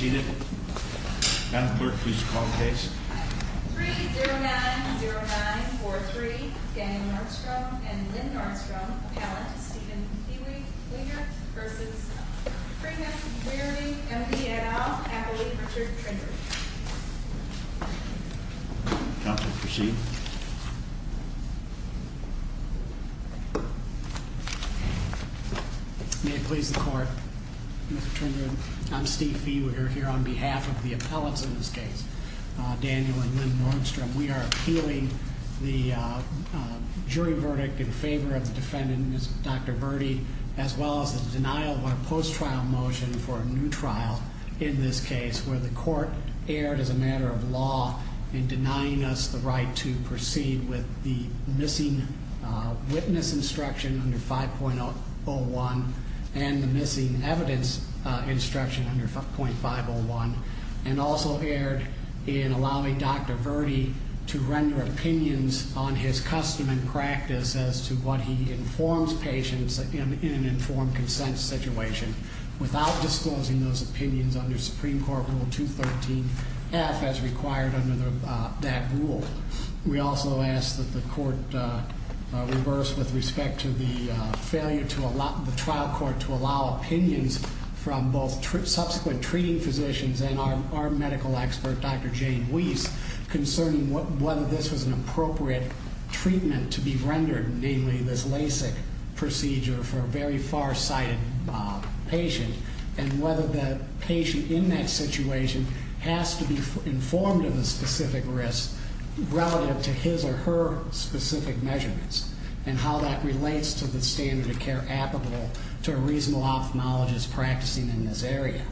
May it please the court, Mr. Trinder, I'm Steve Fee, we're here to report a case of misdemeanor. We're here on behalf of the appellates in this case, Daniel and Lynn Nordstrom. We are appealing the jury verdict in favor of the defendant, Dr. Virdi, as well as the denial of our post-trial motion for a new trial in this case where the court erred as a matter of law in denying us the right to proceed with the missing witness instruction under 5.01 and the missing evidence instruction under 5.501 and also erred in allowing Dr. Virdi to render opinions on his custom and practice as to what he informs patients in an informed consent situation without disclosing those opinions under Supreme Court Rule 213F as required under that rule. We also ask that the court reverse with respect to the failure to allow the trial court to allow opinions from both subsequent treating physicians and our medical expert, Dr. Jane Weiss, concerning whether this was an appropriate treatment to be rendered, namely this LASIK procedure for a very far-sighted patient, and whether the patient in that situation has to be informed of the specific risk relative to his or her specific measurements and how that relates to the standard of care applicable to a reasonable ophthalmologist practicing in this area.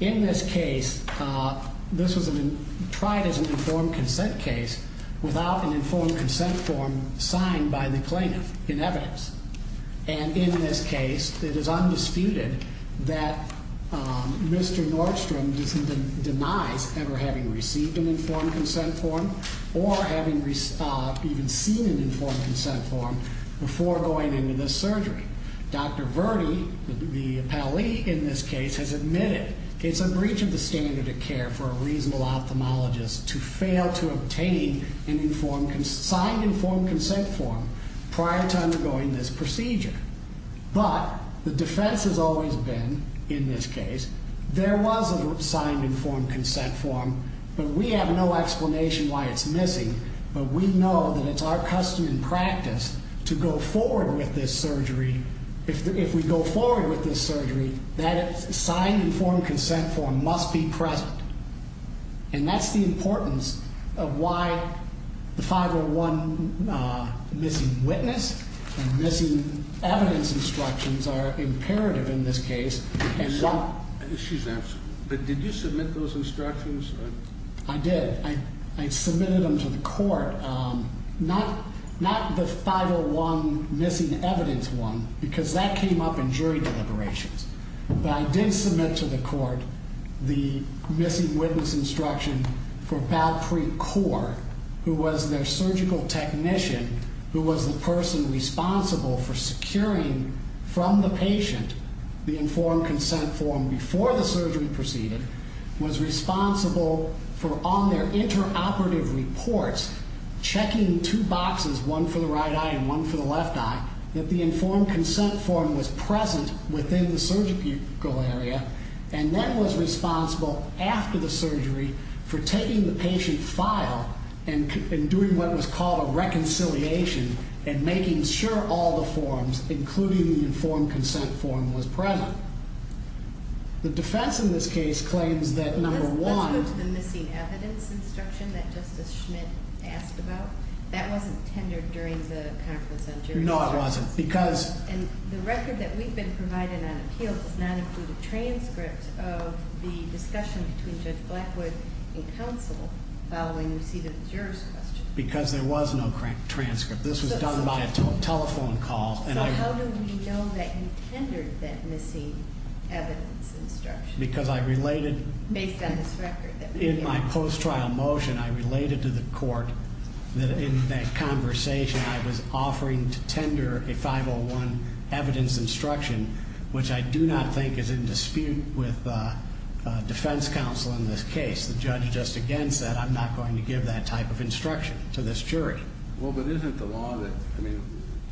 In this case, this was tried as an informed consent case without an informed consent form signed by the plaintiff in evidence. And in this case, it is undisputed that Mr. Nordstrom denies ever having received an informed consent form or having even seen an informed consent form before going into this surgery. Dr. Virdi, the appellee in this case, has admitted it's a breach of the standard of care for a reasonable ophthalmologist to fail to obtain an informed, signed informed consent form prior to undergoing this procedure. But the defense has always been, in this case, there was a signed informed consent form, but we have no explanation why it's missing, but we know that it's our custom and practice to go forward with this surgery. If we go forward with this surgery, that signed informed consent form must be present. And that's the importance of why the 501 missing witness and missing evidence instructions are imperative in this case. She's asking, but did you submit those instructions? I did. I submitted them to the court. Not the 501 missing evidence one, because that came up in jury deliberations. But I did submit to the court the missing witness instruction for Patrick Core, who was their surgical technician, who was the person responsible for securing from the patient the informed consent form before the surgery proceeded, was responsible for on their interoperative reports, checking two boxes, one for the right eye and one for the left eye, that the informed consent form was present within the surgical area, and then was responsible after the surgery for taking the patient file and doing what was called a reconciliation and making sure all the forms, including the informed consent form, was present. The defense in this case claims that, number one... Let's go to the missing evidence instruction that Justice Schmidt asked about. That wasn't tendered during the conference on jury deliberations. No, it wasn't, because... And the record that we've been providing on appeal does not include a transcript of the discussion between Judge Blackwood and counsel following receiving the juror's question. Because there was no transcript. This was done by a telephone call. So how do we know that you tendered that missing evidence instruction? Because I related... Based on this record. In my post-trial motion, I related to the court that in that conversation I was offering to tender a 501 evidence instruction, which I do not think is in dispute with defense counsel in this case. The judge just again said, I'm not going to give that type of instruction to this jury. Well, but isn't the law that... I mean,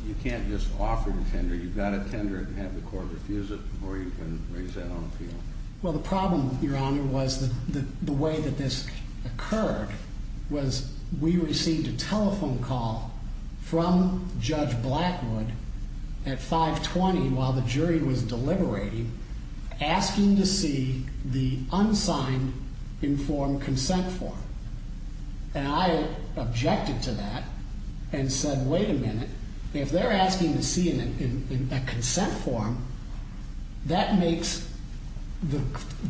you can't just offer to tender. You've got to tender it and have the court refuse it before you can raise that on appeal. Well, the problem, Your Honor, was that the way that this occurred was we received a telephone call from Judge Blackwood at 520 while the jury was deliberating, asking to see the unsigned informed consent form. And I objected to that and said, wait a minute. If they're asking to see a consent form, that makes the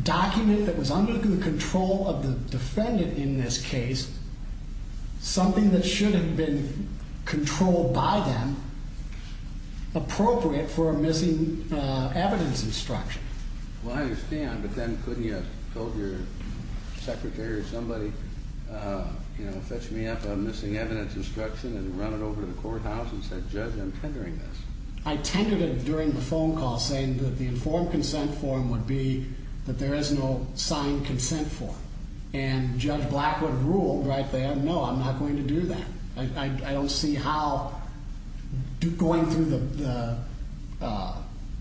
document that was under the control of the defendant in this case something that should have been controlled by them appropriate for a missing evidence instruction. Well, I understand, but then couldn't you have told your secretary or somebody, you know, fetch me up a missing evidence instruction and run it over to the courthouse and said, Judge, I'm tendering this. I tended it during the phone call saying that the informed consent form would be that there was no signed consent form. And Judge Blackwood ruled right there, no, I'm not going to do that. I don't see how going through the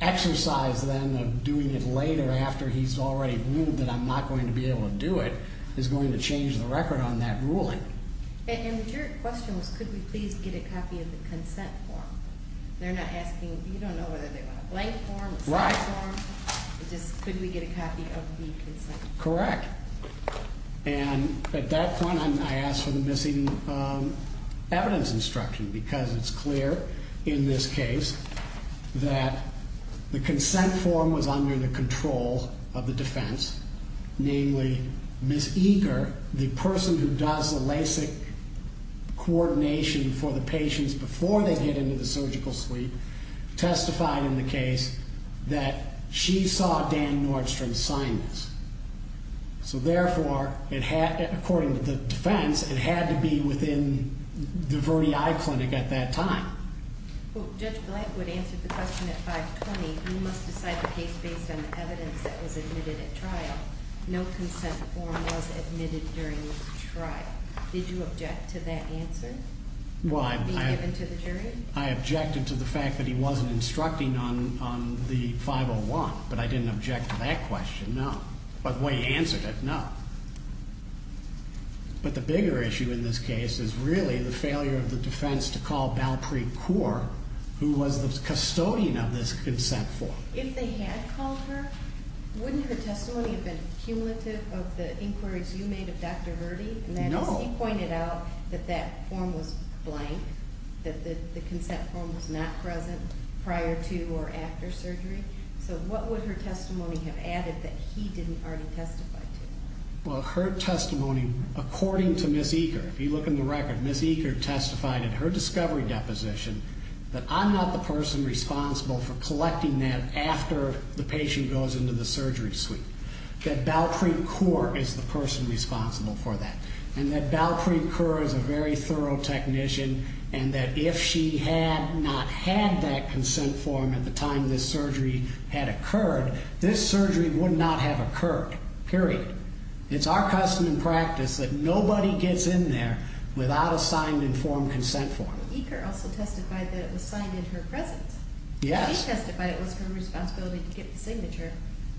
exercise then of doing it later after he's already ruled that I'm not going to be able to do it is going to change the record on that ruling. And your question was, could we please get a copy of the consent form? They're not asking, you don't know whether they want a blank form or a signed form. Right. It's just, could we get a copy of the consent form? Correct. And at that point, I asked for the missing evidence instruction because it's clear in this case that the consent form was under the control of the defense, namely, Ms. Eger, the person who does the LASIK coordination for the patients before they get into the hospital, testified in the case that she saw Dan Nordstrom sign this. So therefore, according to the defense, it had to be within the Verde Eye Clinic at that time. Judge Blackwood answered the question at 520, you must decide the case based on the evidence that was admitted at trial. No consent form was admitted during the trial. Did you object to that answer being given to the jury? I objected to the fact that he wasn't instructing on the 501, but I didn't object to that question, no. But the way he answered it, no. But the bigger issue in this case is really the failure of the defense to call Balpreet Kaur, who was the custodian of this consent form. If they had called her, wouldn't her testimony have been cumulative of the inquiries you made of Dr. Verde? No. She pointed out that that form was blank, that the consent form was not present prior to or after surgery. So what would her testimony have added that he didn't already testify to? Well, her testimony, according to Ms. Eger, if you look in the record, Ms. Eger testified in her discovery deposition that I'm not the person responsible for collecting that after the patient goes into the surgery suite, that Balpreet Kaur is the person responsible for that, and that Balpreet Kaur is a very thorough technician, and that if she had not had that consent form at the time this surgery had occurred, this surgery would not have occurred, period. It's our custom and practice that nobody gets in there without a signed informed consent form. Eger also testified that it was signed in her presence. Yes. She testified it was her responsibility to get the signature,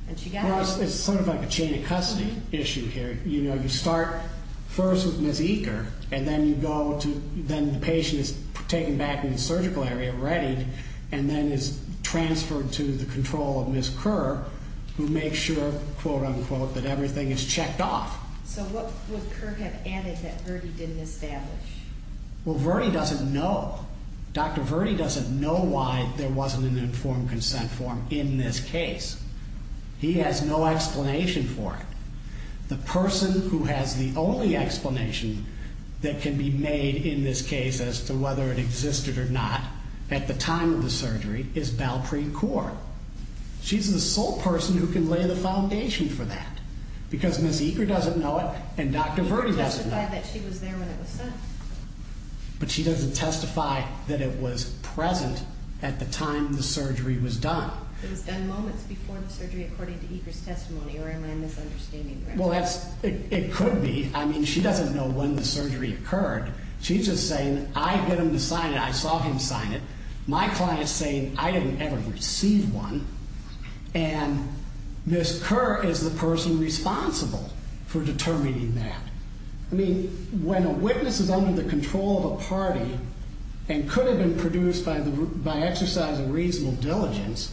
and she got it. It's sort of like a chain of custody issue here. You know, you start first with Ms. Eger, and then the patient is taken back in the surgical area, readied, and then is transferred to the control of Ms. Kerr, who makes sure, quote, unquote, that everything is checked off. So what would Kerr have added that Verde didn't establish? Well, Verde doesn't know. Dr. Verde doesn't know why there wasn't an informed consent form in this case. He has no explanation for it. The person who has the only explanation that can be made in this case as to whether it existed or not at the time of the surgery is Balpreet Kaur. She's the sole person who can lay the foundation for that, because Ms. Eger doesn't know it, and Dr. Verde doesn't know it. She testified that she was there when it was signed. But she doesn't testify that it was present at the time the surgery was done. It was done moments before the surgery according to Eger's testimony, or am I misunderstanding her? Well, it could be. I mean, she doesn't know when the surgery occurred. She's just saying I get him to sign it. I saw him sign it. My client's saying I didn't ever receive one, and Ms. Kerr is the person responsible for determining that. I mean, when a witness is under the control of a party and could have been produced by exercise of reasonable diligence,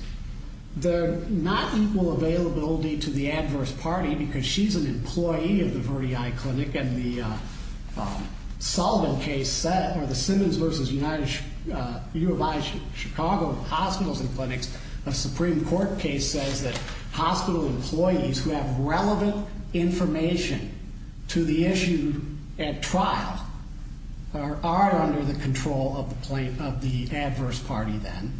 they're not equal availability to the adverse party because she's an employee of the Verde Eye Clinic, and the Sullivan case set, or the Simmons v. U of I Chicago Hospitals and Clinics Supreme Court case says that hospital employees who have relevant information to the issue at trial are under the control of the adverse party then.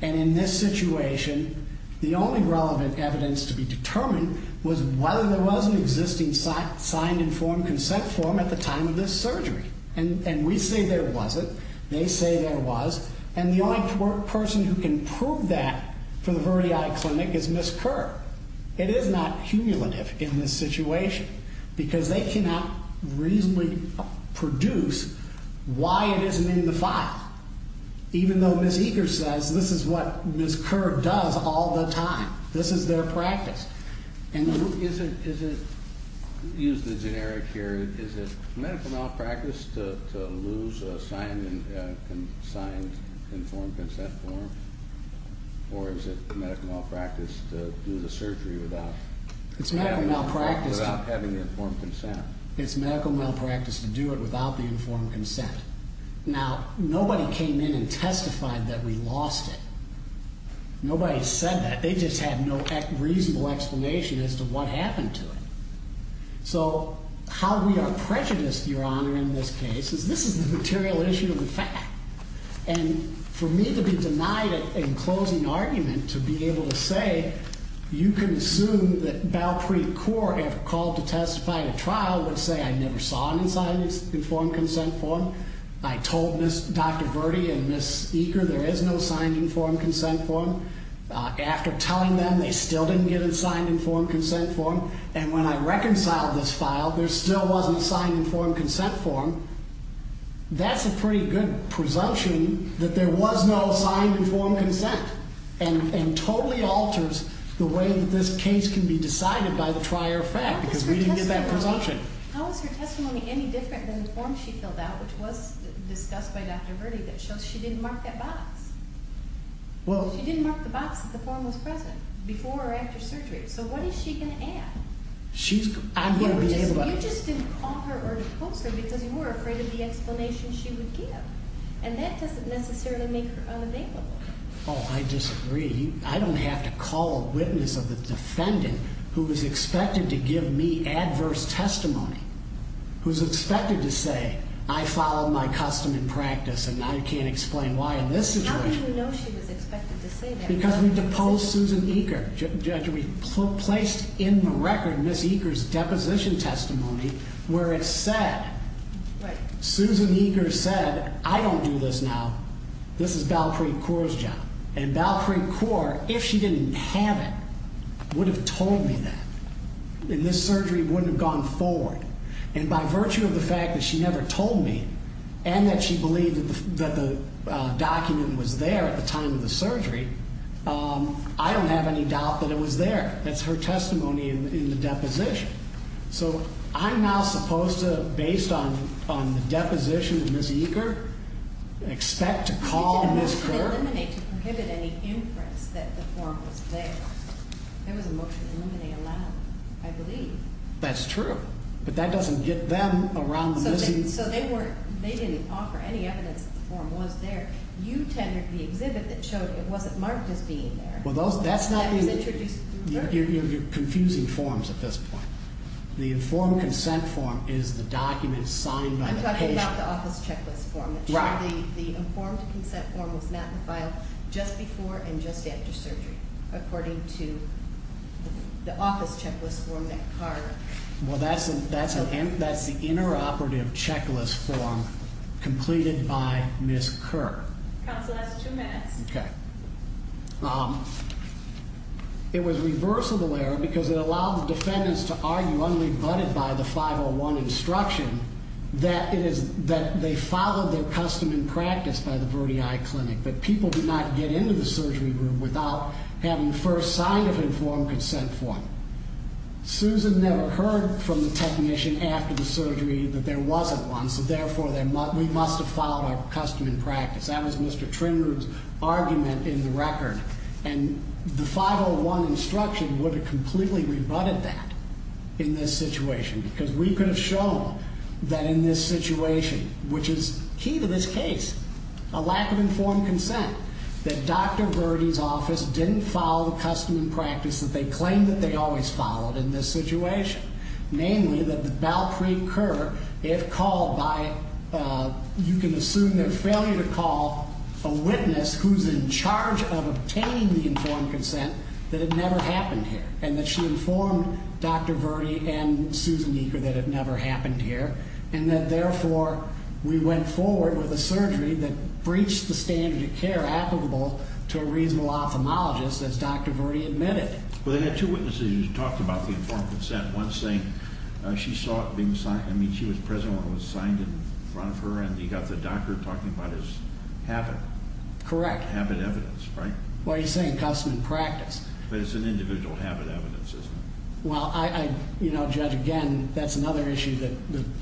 And in this situation, the only relevant evidence to be determined was whether there was an existing signed informed consent form at the time of this surgery. And we say there wasn't. They say there was. And the only person who can prove that for the Verde Eye Clinic is Ms. Kerr. And that's not cumulative in this situation because they cannot reasonably produce why it isn't in the file, even though Ms. Egers says this is what Ms. Kerr does all the time. This is their practice. And is it, use the generic here, is it medical malpractice to lose a signed informed consent form? Or is it medical malpractice to do the surgery without having the informed consent? It's medical malpractice to do it without the informed consent. Now, nobody came in and testified that we lost it. Nobody said that. They just had no reasonable explanation as to what happened to it. So how we are prejudiced, Your Honor, in this case is this is the material issue of the fact. And for me to be denied it in closing argument, to be able to say you can assume that Bower Creek Court, if called to testify at a trial, would say I never saw an informed consent form. I told Dr. Verde and Ms. Eger there is no signed informed consent form. After telling them they still didn't get a signed informed consent form. And when I reconciled this file, there still wasn't a signed informed consent form. That's a pretty good presumption that there was no signed informed consent. And totally alters the way that this case can be decided by the trier fact. Because we didn't get that presumption. How is her testimony any different than the form she filled out, which was discussed by Dr. Verde, that shows she didn't mark that box? She didn't mark the box that the form was present before or after surgery. So what is she going to add? You just didn't call her or depose her because you were afraid of the explanation she would give. And that doesn't necessarily make her unavailable. Oh, I disagree. I don't have to call a witness of the defendant who was expected to give me adverse testimony. Who is expected to say I followed my custom and practice and I can't explain why in this situation. How do you know she was expected to say that? Because we deposed Susan Eger. Judge, we placed in the record Ms. Eger's deposition testimony where it said, Susan Eger said, I don't do this now. This is Valtryek Kaur's job. And Valtryek Kaur, if she didn't have it, would have told me that. And this surgery wouldn't have gone forward. And by virtue of the fact that she never told me and that she believed that the document was there at the time of the surgery, I don't have any doubt that it was there. That's her testimony in the deposition. So I'm now supposed to, based on the deposition of Ms. Eger, expect to call Ms. Kaur? You did a motion to eliminate to prohibit any inference that the form was there. There was a motion to eliminate allowed, I believe. That's true. But that doesn't get them around the missing... So they didn't offer any evidence that the form was there. You tendered the exhibit that showed it wasn't marked as being there. Well, that's not... That was introduced... You're confusing forms at this point. The informed consent form is the document signed by the patient. I'm talking about the office checklist form. Right. The informed consent form was not in the file just before and just after surgery, according to the office checklist form that Kaur... Well, that's the interoperative checklist form completed by Ms. Kaur. Counsel, that's two minutes. Okay. It was reversible error because it allowed the defendants to argue, unrebutted by the 501 instruction, that they followed their custom and practice by the Verdi Eye Clinic, that people did not get into the surgery room without having first signed an informed consent form. Susan never heard from the technician after the surgery that there wasn't one, so therefore we must have followed our custom and practice. That was Mr. Trimrud's argument in the record. And the 501 instruction would have completely rebutted that in this situation because we could have shown that in this situation, which is key to this case, a lack of informed consent that Dr. Verdi's office didn't follow the custom and practice that they claimed that they always followed in this situation. Namely, that Valpreet Kaur, if called by, you can assume their failure to call a witness who's in charge of obtaining the informed consent, that it never happened here and that she informed Dr. Verdi and Susan Eaker that it never happened here and that therefore we went forward with a surgery that breached the standard of care applicable to a reasonable ophthalmologist, as Dr. Verdi admitted. Well, they had two witnesses who talked about the informed consent, one saying she saw it being signed, I mean, she was present when it was signed in front of her and you got the doctor talking about his habit. Correct. Habit evidence, right? Well, he's saying custom and practice. But it's an individual habit evidence, isn't it? Well, I, you know, Judge, again, that's another issue that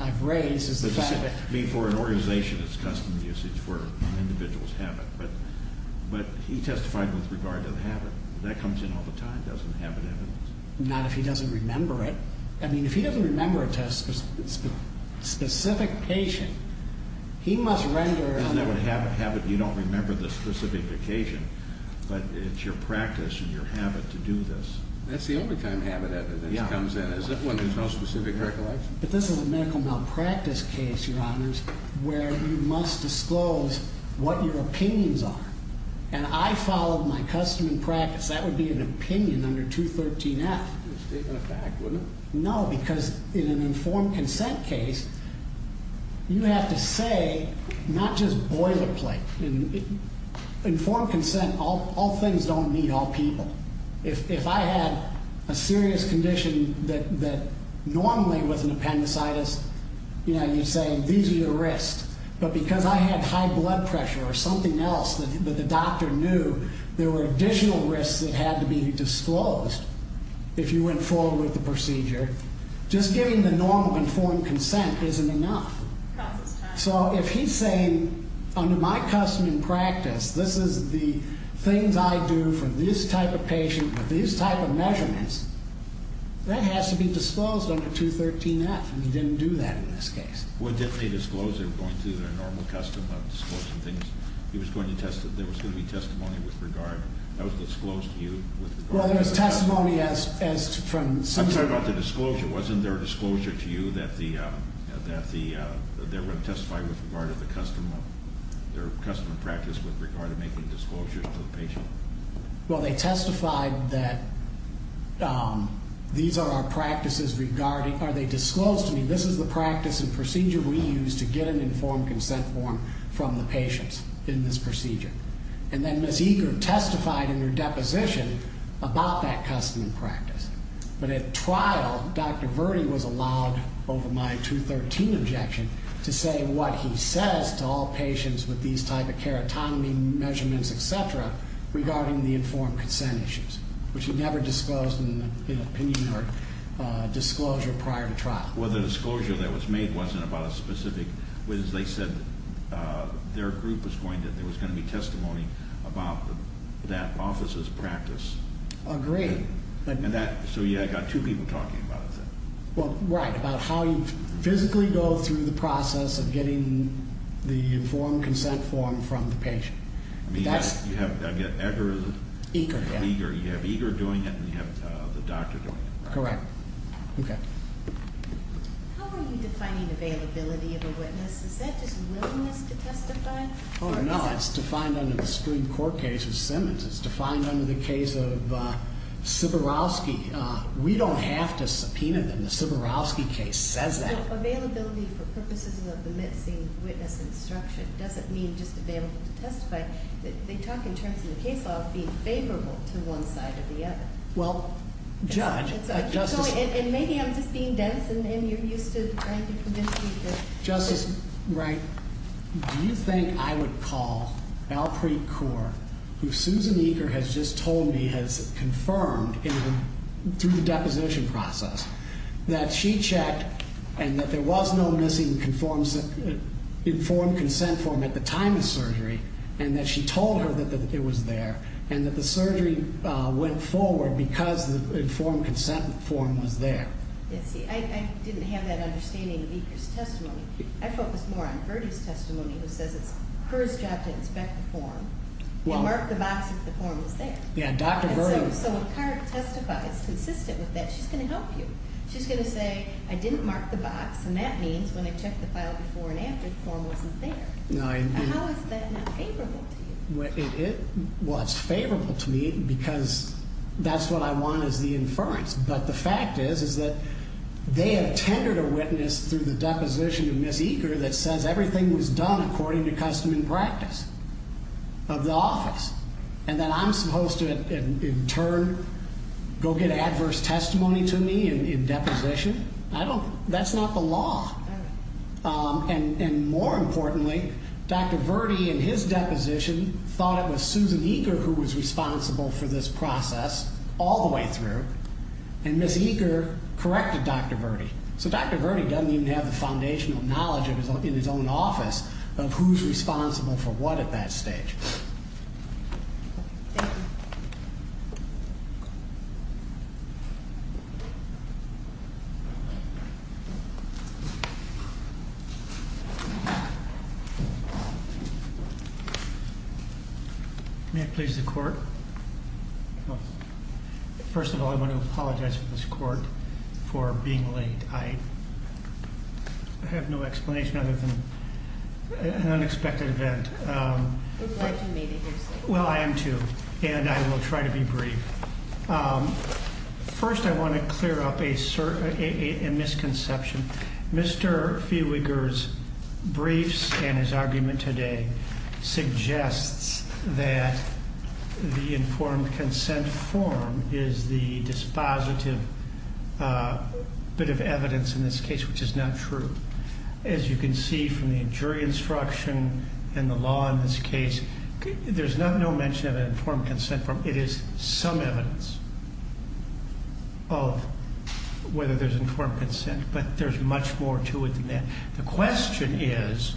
I've raised is the fact that For an organization, it's custom usage for an individual's habit, but he testified with regard to the habit. That comes in all the time, doesn't habit evidence. Not if he doesn't remember it. I mean, if he doesn't remember it to a specific patient, he must render Isn't that what a habit, you don't remember the specific occasion, but it's your practice and your habit to do this. That's the only time habit evidence comes in is when there's no specific recollection. But this is a medical malpractice case, Your Honors, where you must disclose what your opinions are. And I followed my custom and practice. That would be an opinion under 213F. It's a statement of fact, wouldn't it? No, because in an informed consent case, you have to say not just boilerplate. Informed consent, all things don't need all people. If I had a serious condition that normally with an appendicitis, you know, you're saying these are your risks. But because I had high blood pressure or something else that the doctor knew, there were additional risks that had to be disclosed. If you went forward with the procedure, just giving the normal informed consent isn't enough. So if he's saying under my custom and practice, this is the things I do for this type of patient with these type of measurements, that has to be disclosed under 213F. And he didn't do that in this case. Well, didn't they disclose they were going through their normal custom of disclosing things? There was going to be testimony with regard, that was disclosed to you. Well, there was testimony as from I'm sorry about the disclosure. Wasn't there a disclosure to you that they were going to testify with regard to their custom and practice with regard to making disclosures to the patient? Well, they testified that these are our practices regarding, or they disclosed to me this is the practice and procedure we use to get an informed consent form from the patients in this procedure. And then Ms. Eager testified in her deposition about that custom and practice. But at trial, Dr. Verde was allowed, over my 213 objection, to say what he says to all patients with these type of keratonomy measurements, etc., regarding the informed consent issues, which he never disclosed in an opinion or disclosure prior to trial. Well, the disclosure that was made wasn't about a specific, was they said their group was going to, there was going to be testimony about that office's practice. Agreed. And that, so yeah, I got two people talking about that. Well, right, about how you physically go through the process of getting the informed consent form from the patient. I mean, you have, I get Eager. Eager, yeah. Eager, you have Eager doing it and you have the doctor doing it. Correct. Okay. Oh, no, it's defined under the Supreme Court case of Simmons. It's defined under the case of Siborowski. We don't have to subpoena them. The Siborowski case says that. Well, availability for purposes of the missing witness instruction doesn't mean just available to testify. They talk in terms of the case law being favorable to one side or the other. Well, Judge, Justice. And maybe I'm just being dense and you're used to, right, you're conditioned to. Justice Wright, do you think I would call Alpreet Kaur, who Susan Eager has just told me has confirmed through the deposition process that she checked and that there was no missing informed consent form at the time of surgery and that she told her that it was there and that the surgery went forward because the informed consent form was there? I didn't have that understanding of Eager's testimony. I focused more on Verdi's testimony, who says it's her job to inspect the form and mark the box if the form was there. Yeah, Dr. Verdi. So when Kaur testifies consistent with that, she's going to help you. She's going to say, I didn't mark the box, and that means when I checked the file before and after, the form wasn't there. How is that not favorable to you? Well, it's favorable to me because that's what I want is the inference. But the fact is, is that they have tendered a witness through the deposition of Ms. Eager that says everything was done according to custom and practice of the office, and that I'm supposed to in turn go get adverse testimony to me in deposition? That's not the law. And more importantly, Dr. Verdi in his deposition thought it was Susan Eager who was responsible for this process all the way through, and Ms. Eager corrected Dr. Verdi. So Dr. Verdi doesn't even have the foundational knowledge in his own office of who's responsible for what at that stage. Thank you. May it please the court? First of all, I want to apologize to this court for being late. I have no explanation other than an unexpected event. Well, I do, maybe. Let me be brief. First, I want to clear up a misconception. Mr. Fiewiger's briefs and his argument today suggests that the informed consent form is the dispositive bit of evidence in this case, which is not true. As you can see from the jury instruction and the law in this case, there's no mention of an informed consent form. It is some evidence of whether there's informed consent, but there's much more to it than that. The question is,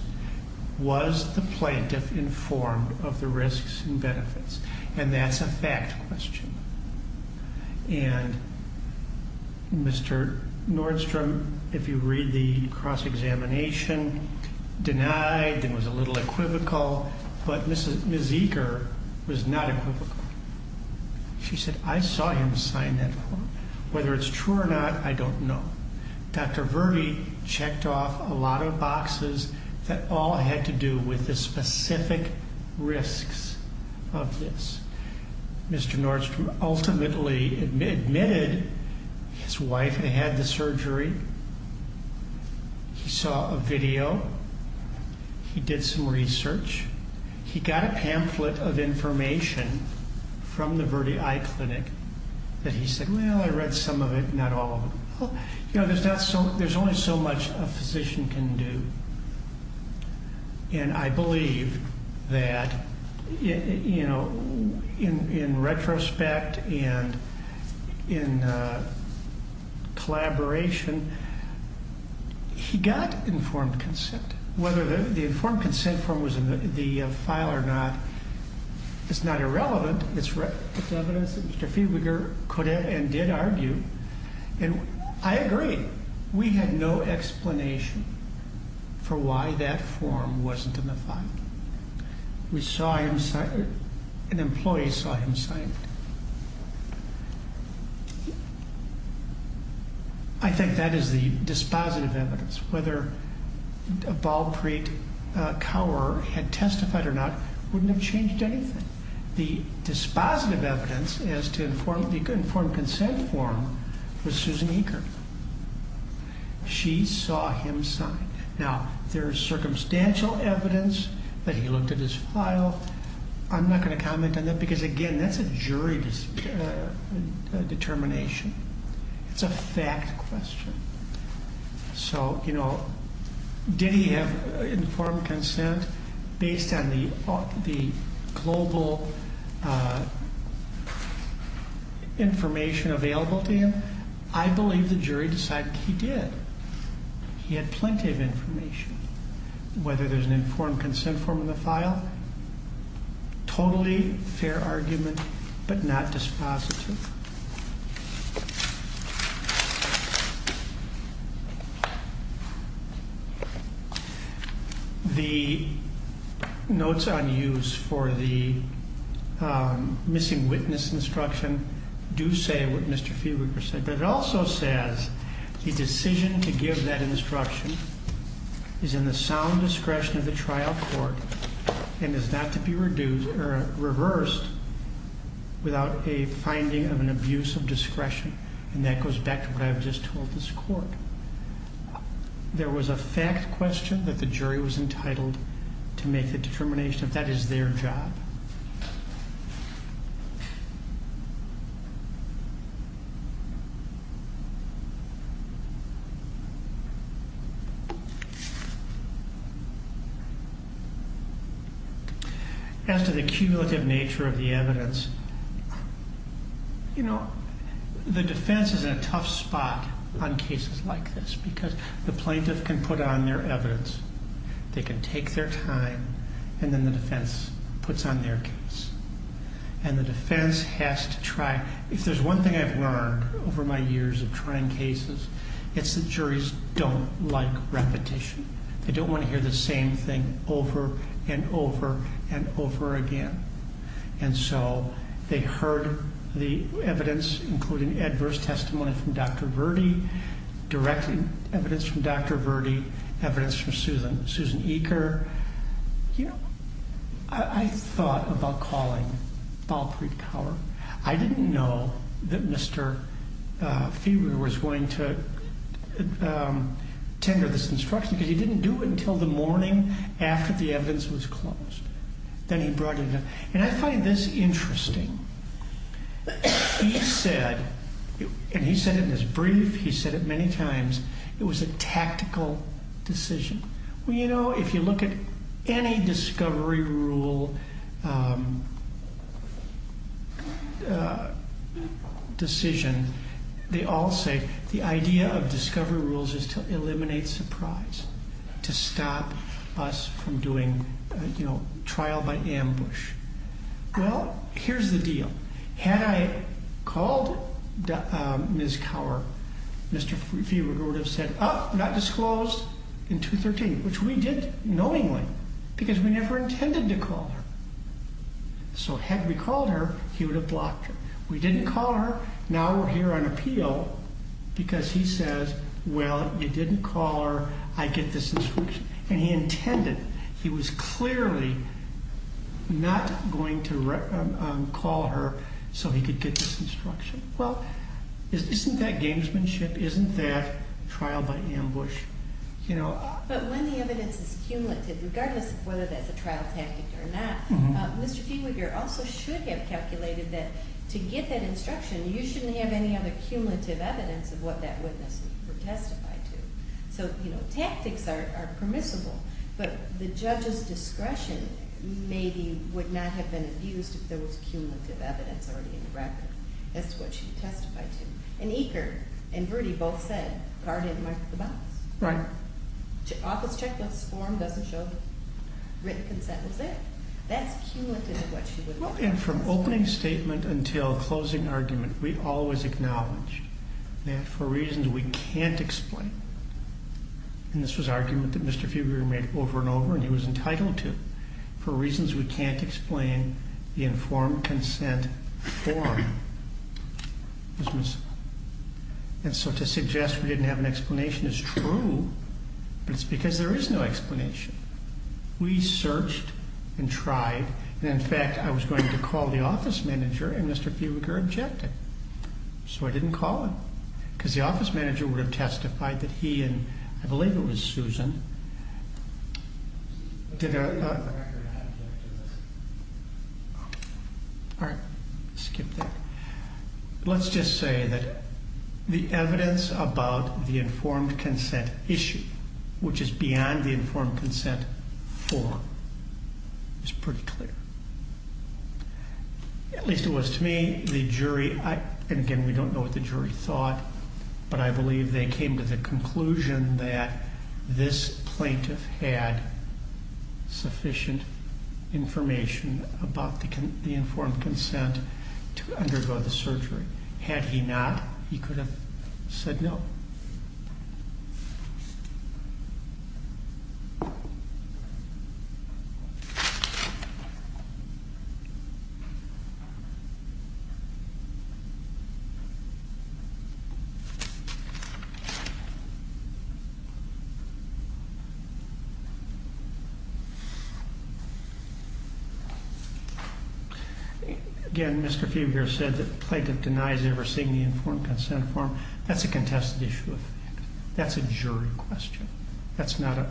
was the plaintiff informed of the risks and benefits? And that's a fact question. And Mr. Nordstrom, if you read the cross-examination, denied and was a little equivocal, but Ms. She said, I saw him sign that form. Whether it's true or not, I don't know. Dr. Verde checked off a lot of boxes that all had to do with the specific risks of this. Mr. Nordstrom ultimately admitted his wife had had the surgery. He saw a video. He did some research. He got a pamphlet of information from the Verde Eye Clinic that he said, well, I read some of it, not all of it. You know, there's only so much a physician can do. And I believe that, you know, in retrospect and in collaboration, he got informed consent. Whether the informed consent form was in the file or not, it's not irrelevant. It's evidence that Mr. Fiedliger could and did argue. And I agree. We had no explanation for why that form wasn't in the file. We saw him sign it. An employee saw him sign it. I think that is the dispositive evidence. Whether Balpreet Kaur had testified or not wouldn't have changed anything. The dispositive evidence as to the informed consent form was Susan Eaker. She saw him sign. Now, there's circumstantial evidence that he looked at his file. I'm not going to comment on that because, again, that's a jury determination. It's a fact question. So, you know, did he have informed consent based on the global information available to him? I believe the jury decided he did. He had plenty of information. Whether there's an informed consent form in the file, totally fair argument, but not dispositive. The notes on use for the missing witness instruction do say what Mr. Fiedliger said, but it also says the decision to give that instruction is in the sound discretion of the trial court and is not to be reversed without a finding of an abuse of discretion. And that goes back to what I've just told this court. There was a fact question that the jury was entitled to make the determination if that is their job. As to the cumulative nature of the evidence, you know, the defense is in a tough spot on cases like this because the plaintiff can put on their evidence, they can take their time, and then the defense puts on their case. And the defense has to try. If there's one thing I've learned over my years of trying cases, it's that juries don't like repetition. They don't want to hear the same thing over and over and over again. And so they heard the evidence, including adverse testimony from Dr. Verde, direct evidence from Dr. Verde, evidence from Susan Eaker. You know, I thought about calling Balpreet Kaur. I didn't know that Mr. Fieber was going to tender this instruction because he didn't do it until the morning after the evidence was closed. Then he brought it up. And I find this interesting. He said, and he said it in his brief, he said it many times, it was a tactical decision. Well, you know, if you look at any discovery rule decision, they all say the idea of discovery rules is to eliminate surprise, to stop us from doing, you know, trial by ambush. Well, here's the deal. Had I called Ms. Kaur, Mr. Fieber would have said, oh, not disclosed in 213, which we did knowingly because we never intended to call her. So had we called her, he would have blocked her. We didn't call her. Now we're here on appeal because he says, well, you didn't call her. I get this instruction. And he intended, he was clearly not going to call her so he could get this instruction. Well, isn't that gamesmanship? Isn't that trial by ambush? But when the evidence is cumulative, regardless of whether that's a trial tactic or not, Mr. Fieber here also should have calculated that to get that instruction, you shouldn't have any other cumulative evidence of what that witness would testify to. So, you know, tactics are permissible, but the judge's discretion maybe would not have been abused if there was cumulative evidence already in the record. That's what she testified to. And Eker and Verdi both said Kaur didn't mark the box. Right. Office checkbook's form doesn't show written consent was there. That's cumulative of what she would have. And from opening statement until closing argument, we always acknowledge that for reasons we can't explain, and this was an argument that Mr. Fieber made over and over and he was entitled to, for reasons we can't explain, the informed consent form was missing. And so to suggest we didn't have an explanation is true, but it's because there is no explanation. We searched and tried, and, in fact, I was going to call the office manager, and Mr. Fieber objected. So I didn't call him because the office manager would have testified that he and I believe it was Susan did a. All right. Skip that. Let's just say that the evidence about the informed consent issue, which is beyond the informed consent form, is pretty clear. At least it was to me. The jury, and again, we don't know what the jury thought, but I believe they came to the conclusion that this plaintiff had sufficient information about the informed consent to undergo the surgery. Had he not, he could have said no. Again, Mr. Fieber said that the plaintiff denies ever seeing the informed consent form. That's a contested issue. That's a jury question. That's not a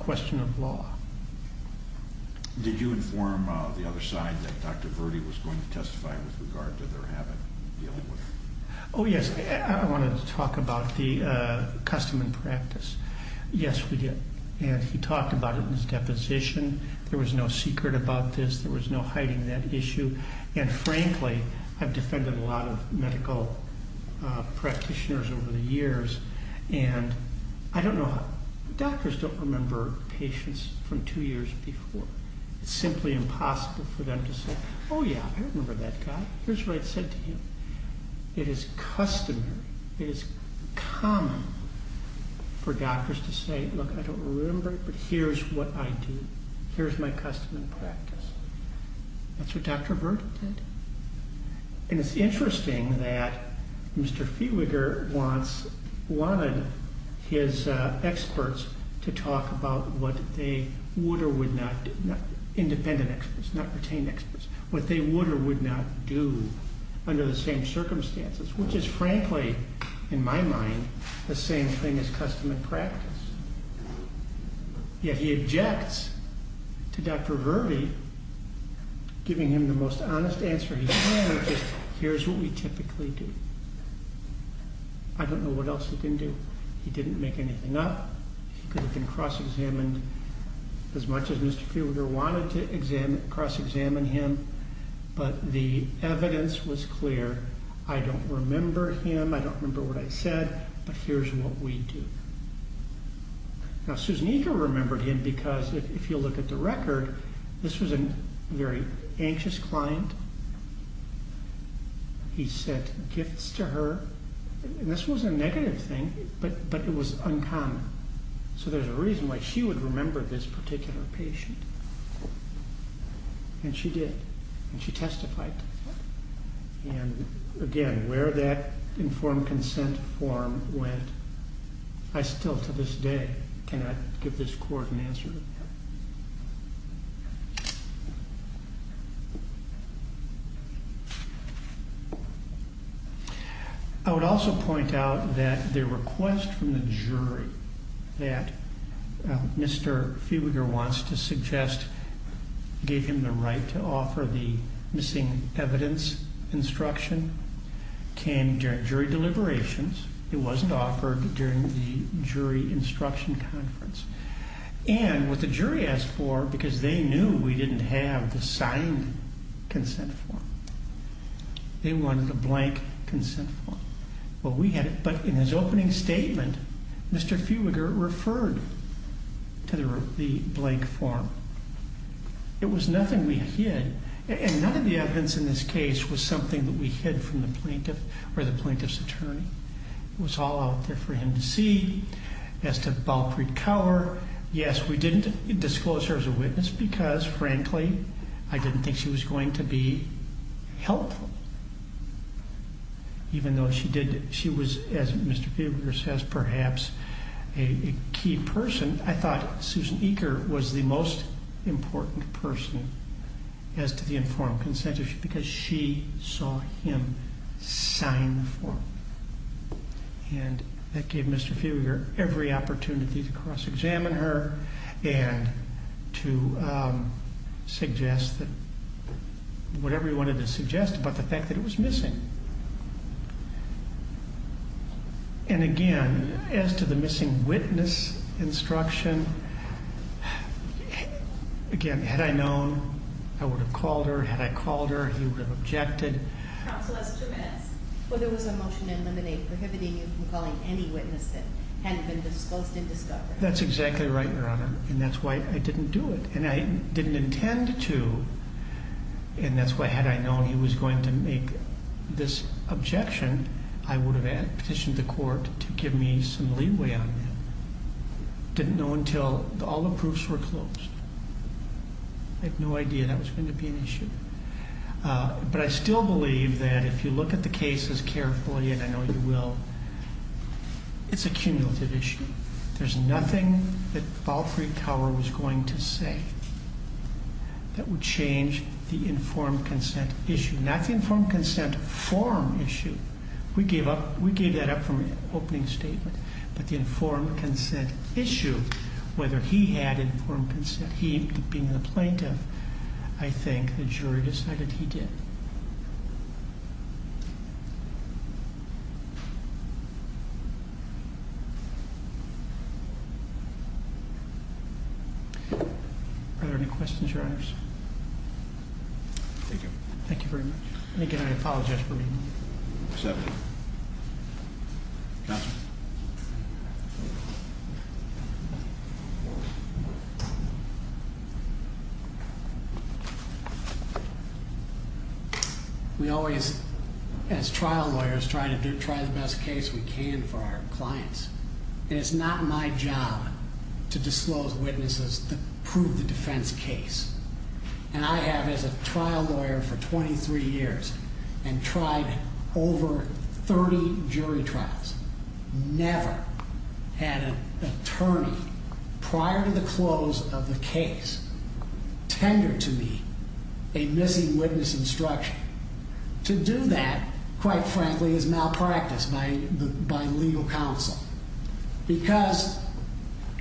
question of law. Did you inform the other side that Dr. Verdi was going to testify with regard to their habit of dealing with it? Oh, yes. I wanted to talk about the custom and practice. Yes, we did. And he talked about it in his deposition. There was no secret about this. There was no hiding that issue. And frankly, I've defended a lot of medical practitioners over the years, and I don't know how. Doctors don't remember patients from two years before. It's simply impossible for them to say, oh, yeah, I remember that guy. Here's what I said to him. It is customary, it is common for doctors to say, look, I don't remember it, but here's what I do. Here's my custom and practice. That's what Dr. Verdi did. And it's interesting that Mr. Fieber once wanted his experts to talk about what they would or would not do. Independent experts, not retained experts. What they would or would not do under the same circumstances, which is frankly, in my mind, the same thing as custom and practice. Yet he objects to Dr. Verdi giving him the most honest answer he can, which is here's what we typically do. I don't know what else he didn't do. He didn't make anything up. He could have been cross-examined as much as Mr. Fieber wanted to cross-examine him, but the evidence was clear. I don't remember him, I don't remember what I said, but here's what we do. Now, Susan Eaker remembered him because if you look at the record, this was a very anxious client. He sent gifts to her, and this was a negative thing, but it was uncommon. So there's a reason why she would remember this particular patient. And she did, and she testified. And again, where that informed consent form went, I still to this day cannot give this court an answer. I would also point out that the request from the jury that Mr. Fieber wants to suggest gave him the right to offer the missing evidence instruction came during jury deliberations. It wasn't offered during the jury instruction conference. And what the jury asked for, because they knew we didn't have the signed consent form, they wanted a blank consent form. But in his opening statement, Mr. Fieber referred to the blank form. It was nothing we hid, and none of the evidence in this case was something that we hid from the plaintiff or the plaintiff's attorney. It was all out there for him to see. As to Balpreet Kaur, yes, we didn't disclose her as a witness because, frankly, I didn't think she was going to be helpful. Even though she was, as Mr. Fieber says, perhaps a key person, I thought Susan Eaker was the most important person as to the informed consent issue because she saw him sign the form. And that gave Mr. Fieber every opportunity to cross-examine her and to suggest whatever he wanted to suggest about the fact that it was missing. And again, as to the missing witness instruction, again, had I known, I would have called her. Had I called her, he would have objected. Counsel, that's two minutes. Well, there was a motion to eliminate prohibiting you from calling any witness that hadn't been disclosed in discovery. That's exactly right, Your Honor, and that's why I didn't do it. And I didn't intend to, and that's why had I known he was going to make this objection, I would have petitioned the court to give me some leeway on that. Didn't know until all the proofs were closed. But I still believe that if you look at the cases carefully, and I know you will, it's a cumulative issue. There's nothing that Alfred Tower was going to say that would change the informed consent issue. Not the informed consent form issue. We gave that up from the opening statement. But the informed consent issue, whether he had informed consent, he being the plaintiff, I think the jury decided he did. Are there any questions, Your Honors? Thank you. Thank you very much. And again, I apologize for being late. We always, as trial lawyers, try to do, try the best case we can for our clients. And it's not my job to disclose witnesses that prove the defense case. And I have, as a trial lawyer for 23 years, and tried over 30 jury trials. Never had an attorney, prior to the close of the case, tender to me a missing witness instruction. To do that, quite frankly, is malpractice by legal counsel. Because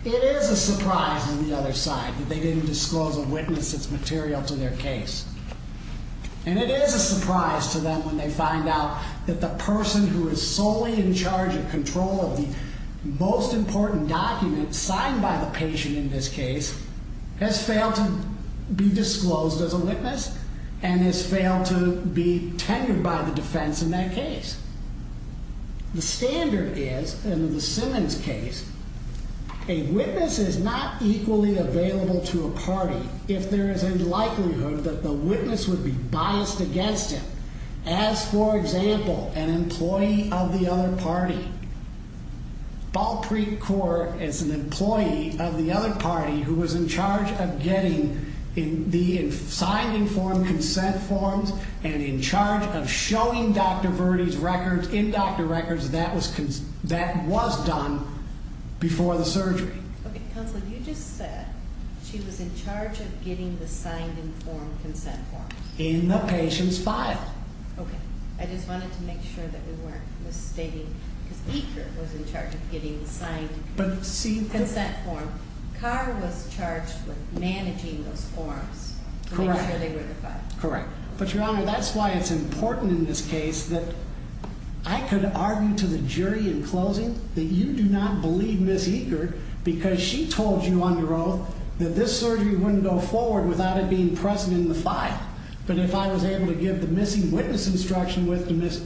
it is a surprise on the other side that they didn't disclose a witness that's material to their case. And it is a surprise to them when they find out that the person who is solely in charge of control of the most important document signed by the patient in this case, has failed to be disclosed as a witness, and has failed to be tenured by the defense in that case. The standard is, in the Simmons case, a witness is not equally available to a party if there is a likelihood that the witness would be biased against him. As, for example, an employee of the other party. Balpreet Kaur, as an employee of the other party, who was in charge of getting the signed informed consent forms, and in charge of showing Dr. Verdi's records, in doctor records, that was done before the surgery. In the patient's file. Ms. Eker was in charge of getting the signed consent form. Kaur was charged with managing those forms to make sure they were the file. Correct. But, Your Honor, that's why it's important in this case that I could argue to the jury in closing that you do not believe Ms. Eker because she told you under oath that this surgery wouldn't go forward without it being present in the file. But if I was able to give the missing witness instruction with Ms.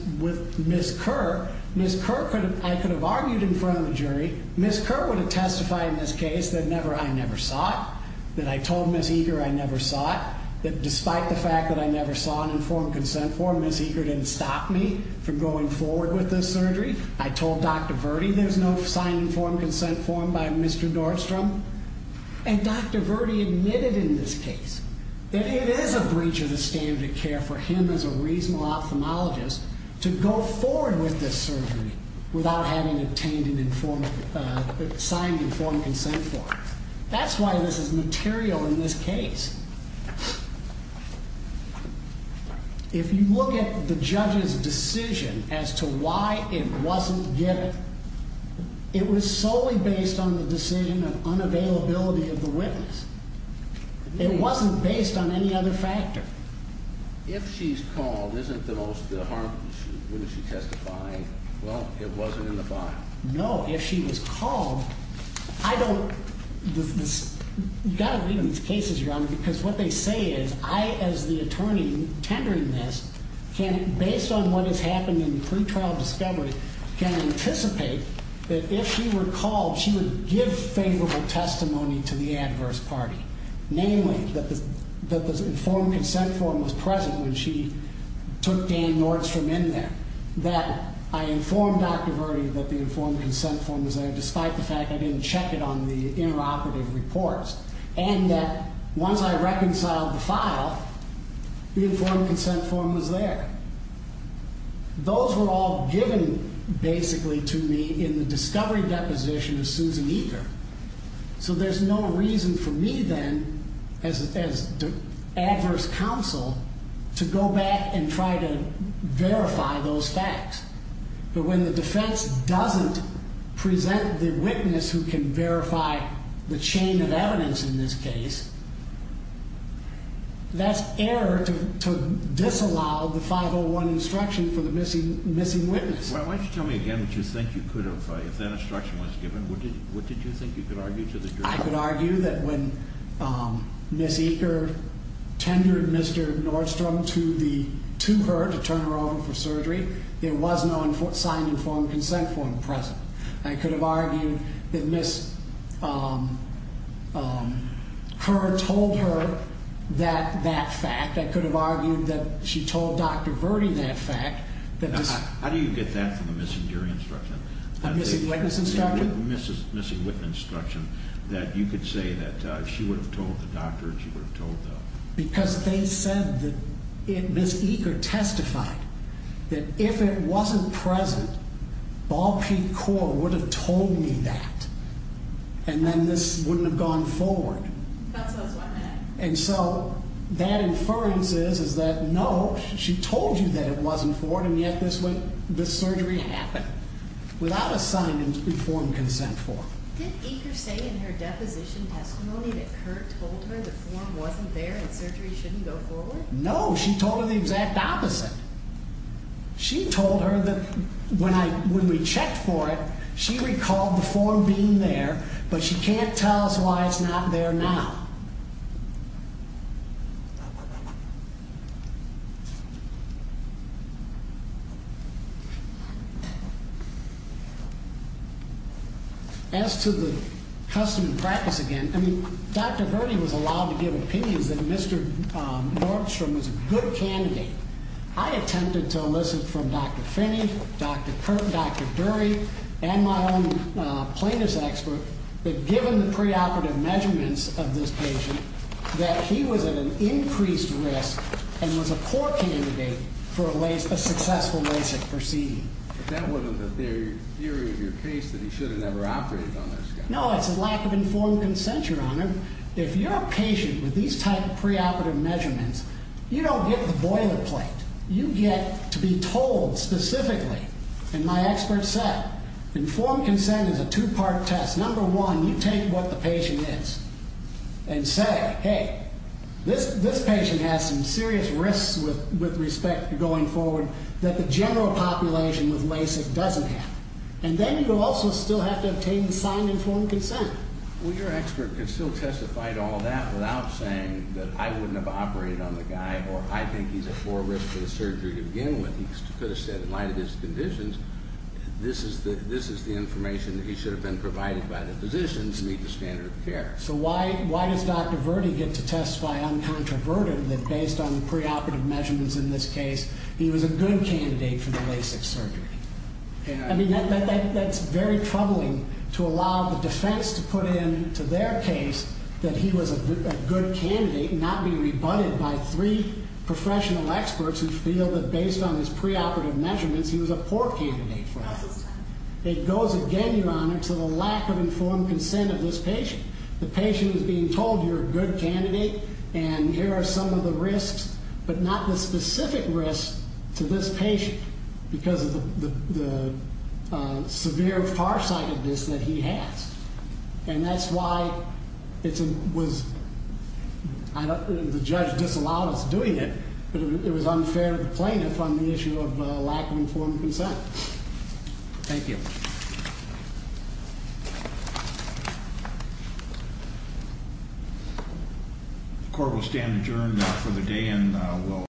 Kaur, Ms. Kaur, I could have argued in front of the jury, Ms. Kaur would have testified in this case that I never saw it, that I told Ms. Eker I never saw it, that despite the fact that I never saw an informed consent form, Ms. Eker didn't stop me from going forward with this surgery. I told Dr. Verdi there's no signed informed consent form by Mr. Nordstrom. And Dr. Verdi admitted in this case that it is a breach of the standard of care for him as a reasonable ophthalmologist to go forward with this surgery without having obtained an informed, signed informed consent form. That's why this is material in this case. If you look at the judge's decision as to why it wasn't given, it was solely based on the decision of unavailability of the witness. It wasn't based on any other factor. If she's called, isn't the most harmful issue, wouldn't she testify, well, it wasn't in the file? No, if she was called, I don't, you've got to read these cases, Your Honor, because what they say is I, as the attorney tendering this, can, based on what has happened in the pretrial discovery, can anticipate that if she were called, she would give favorable testimony to the adverse party, namely that the informed consent form was present when she took Dan Nordstrom in there, that I informed Dr. Verdi that the informed consent form was there, despite the fact I didn't check it on the interoperative reports, and that once I reconciled the file, the informed consent form was there. Those were all given, basically, to me in the discovery deposition of Susan Eaker. So there's no reason for me then, as adverse counsel, to go back and try to verify those facts. But when the defense doesn't present the witness who can verify the chain of evidence in this case, that's error to disallow the 501 instruction for the missing witness. Well, why don't you tell me again what you think you could have, if that instruction was given, what did you think you could argue to the jury? I could argue that when Ms. Eaker tendered Mr. Nordstrom to her to turn her over for surgery, there was no signed informed consent form present. I could have argued that Ms. Herr told her that fact. I could have argued that she told Dr. Verdi that fact. How do you get that from the missing jury instruction? The missing witness instruction? The missing witness instruction, that you could say that she would have told the doctor, she would have told the... Because they said that Ms. Eaker testified that if it wasn't present, Ball Peak Corps would have told me that, and then this wouldn't have gone forward. And so that inference is that no, she told you that it wasn't forward, and yet this surgery happened without a signed informed consent form. Did Eaker say in her deposition testimony that Kurt told her the form wasn't there and surgery shouldn't go forward? No, she told her the exact opposite. She told her that when we checked for it, she recalled the form being there, but she can't tell us why it's not there now. As to the custom and practice again, I mean, Dr. Verdi was allowed to give opinions that Mr. Nordstrom was a good candidate. I attempted to elicit from Dr. Finney, Dr. Dury, and my own plaintiff's expert that given the preoperative measurements of this patient, that he was at an increased risk and was a poor candidate for a successful LASIK proceeding. But that wasn't the theory of your case that he should have never operated on this guy? No, it's a lack of informed consent, Your Honor. If you're a patient with these type of preoperative measurements, you don't get the boilerplate. You get to be told specifically, and my expert said, informed consent is a two-part test. Number one, you take what the patient is and say, hey, this patient has some serious risks with respect going forward that the general population with LASIK doesn't have. And then you also still have to obtain the signed informed consent. Well, your expert could still testify to all that without saying that I wouldn't have operated on the guy or I think he's at more risk for the surgery to begin with. He could have said in light of his conditions, this is the information that he should have been provided by the physicians to meet the standard of care. So why does Dr. Verde get to testify uncontroverted that based on the preoperative measurements in this case, he was a good candidate for the LASIK surgery? I mean, that's very troubling to allow the defense to put into their case that he was a good candidate and not be rebutted by three professional experts who feel that based on his preoperative measurements, he was a poor candidate for LASIK. It goes again, Your Honor, to the lack of informed consent of this patient. The patient is being told you're a good candidate and here are some of the risks, but not the specific risks to this patient because of the severe farsightedness that he has. And that's why the judge disallowed us doing it. It was unfair to the plaintiff on the issue of lack of informed consent. Thank you. The court will stand adjourned for the day and we'll...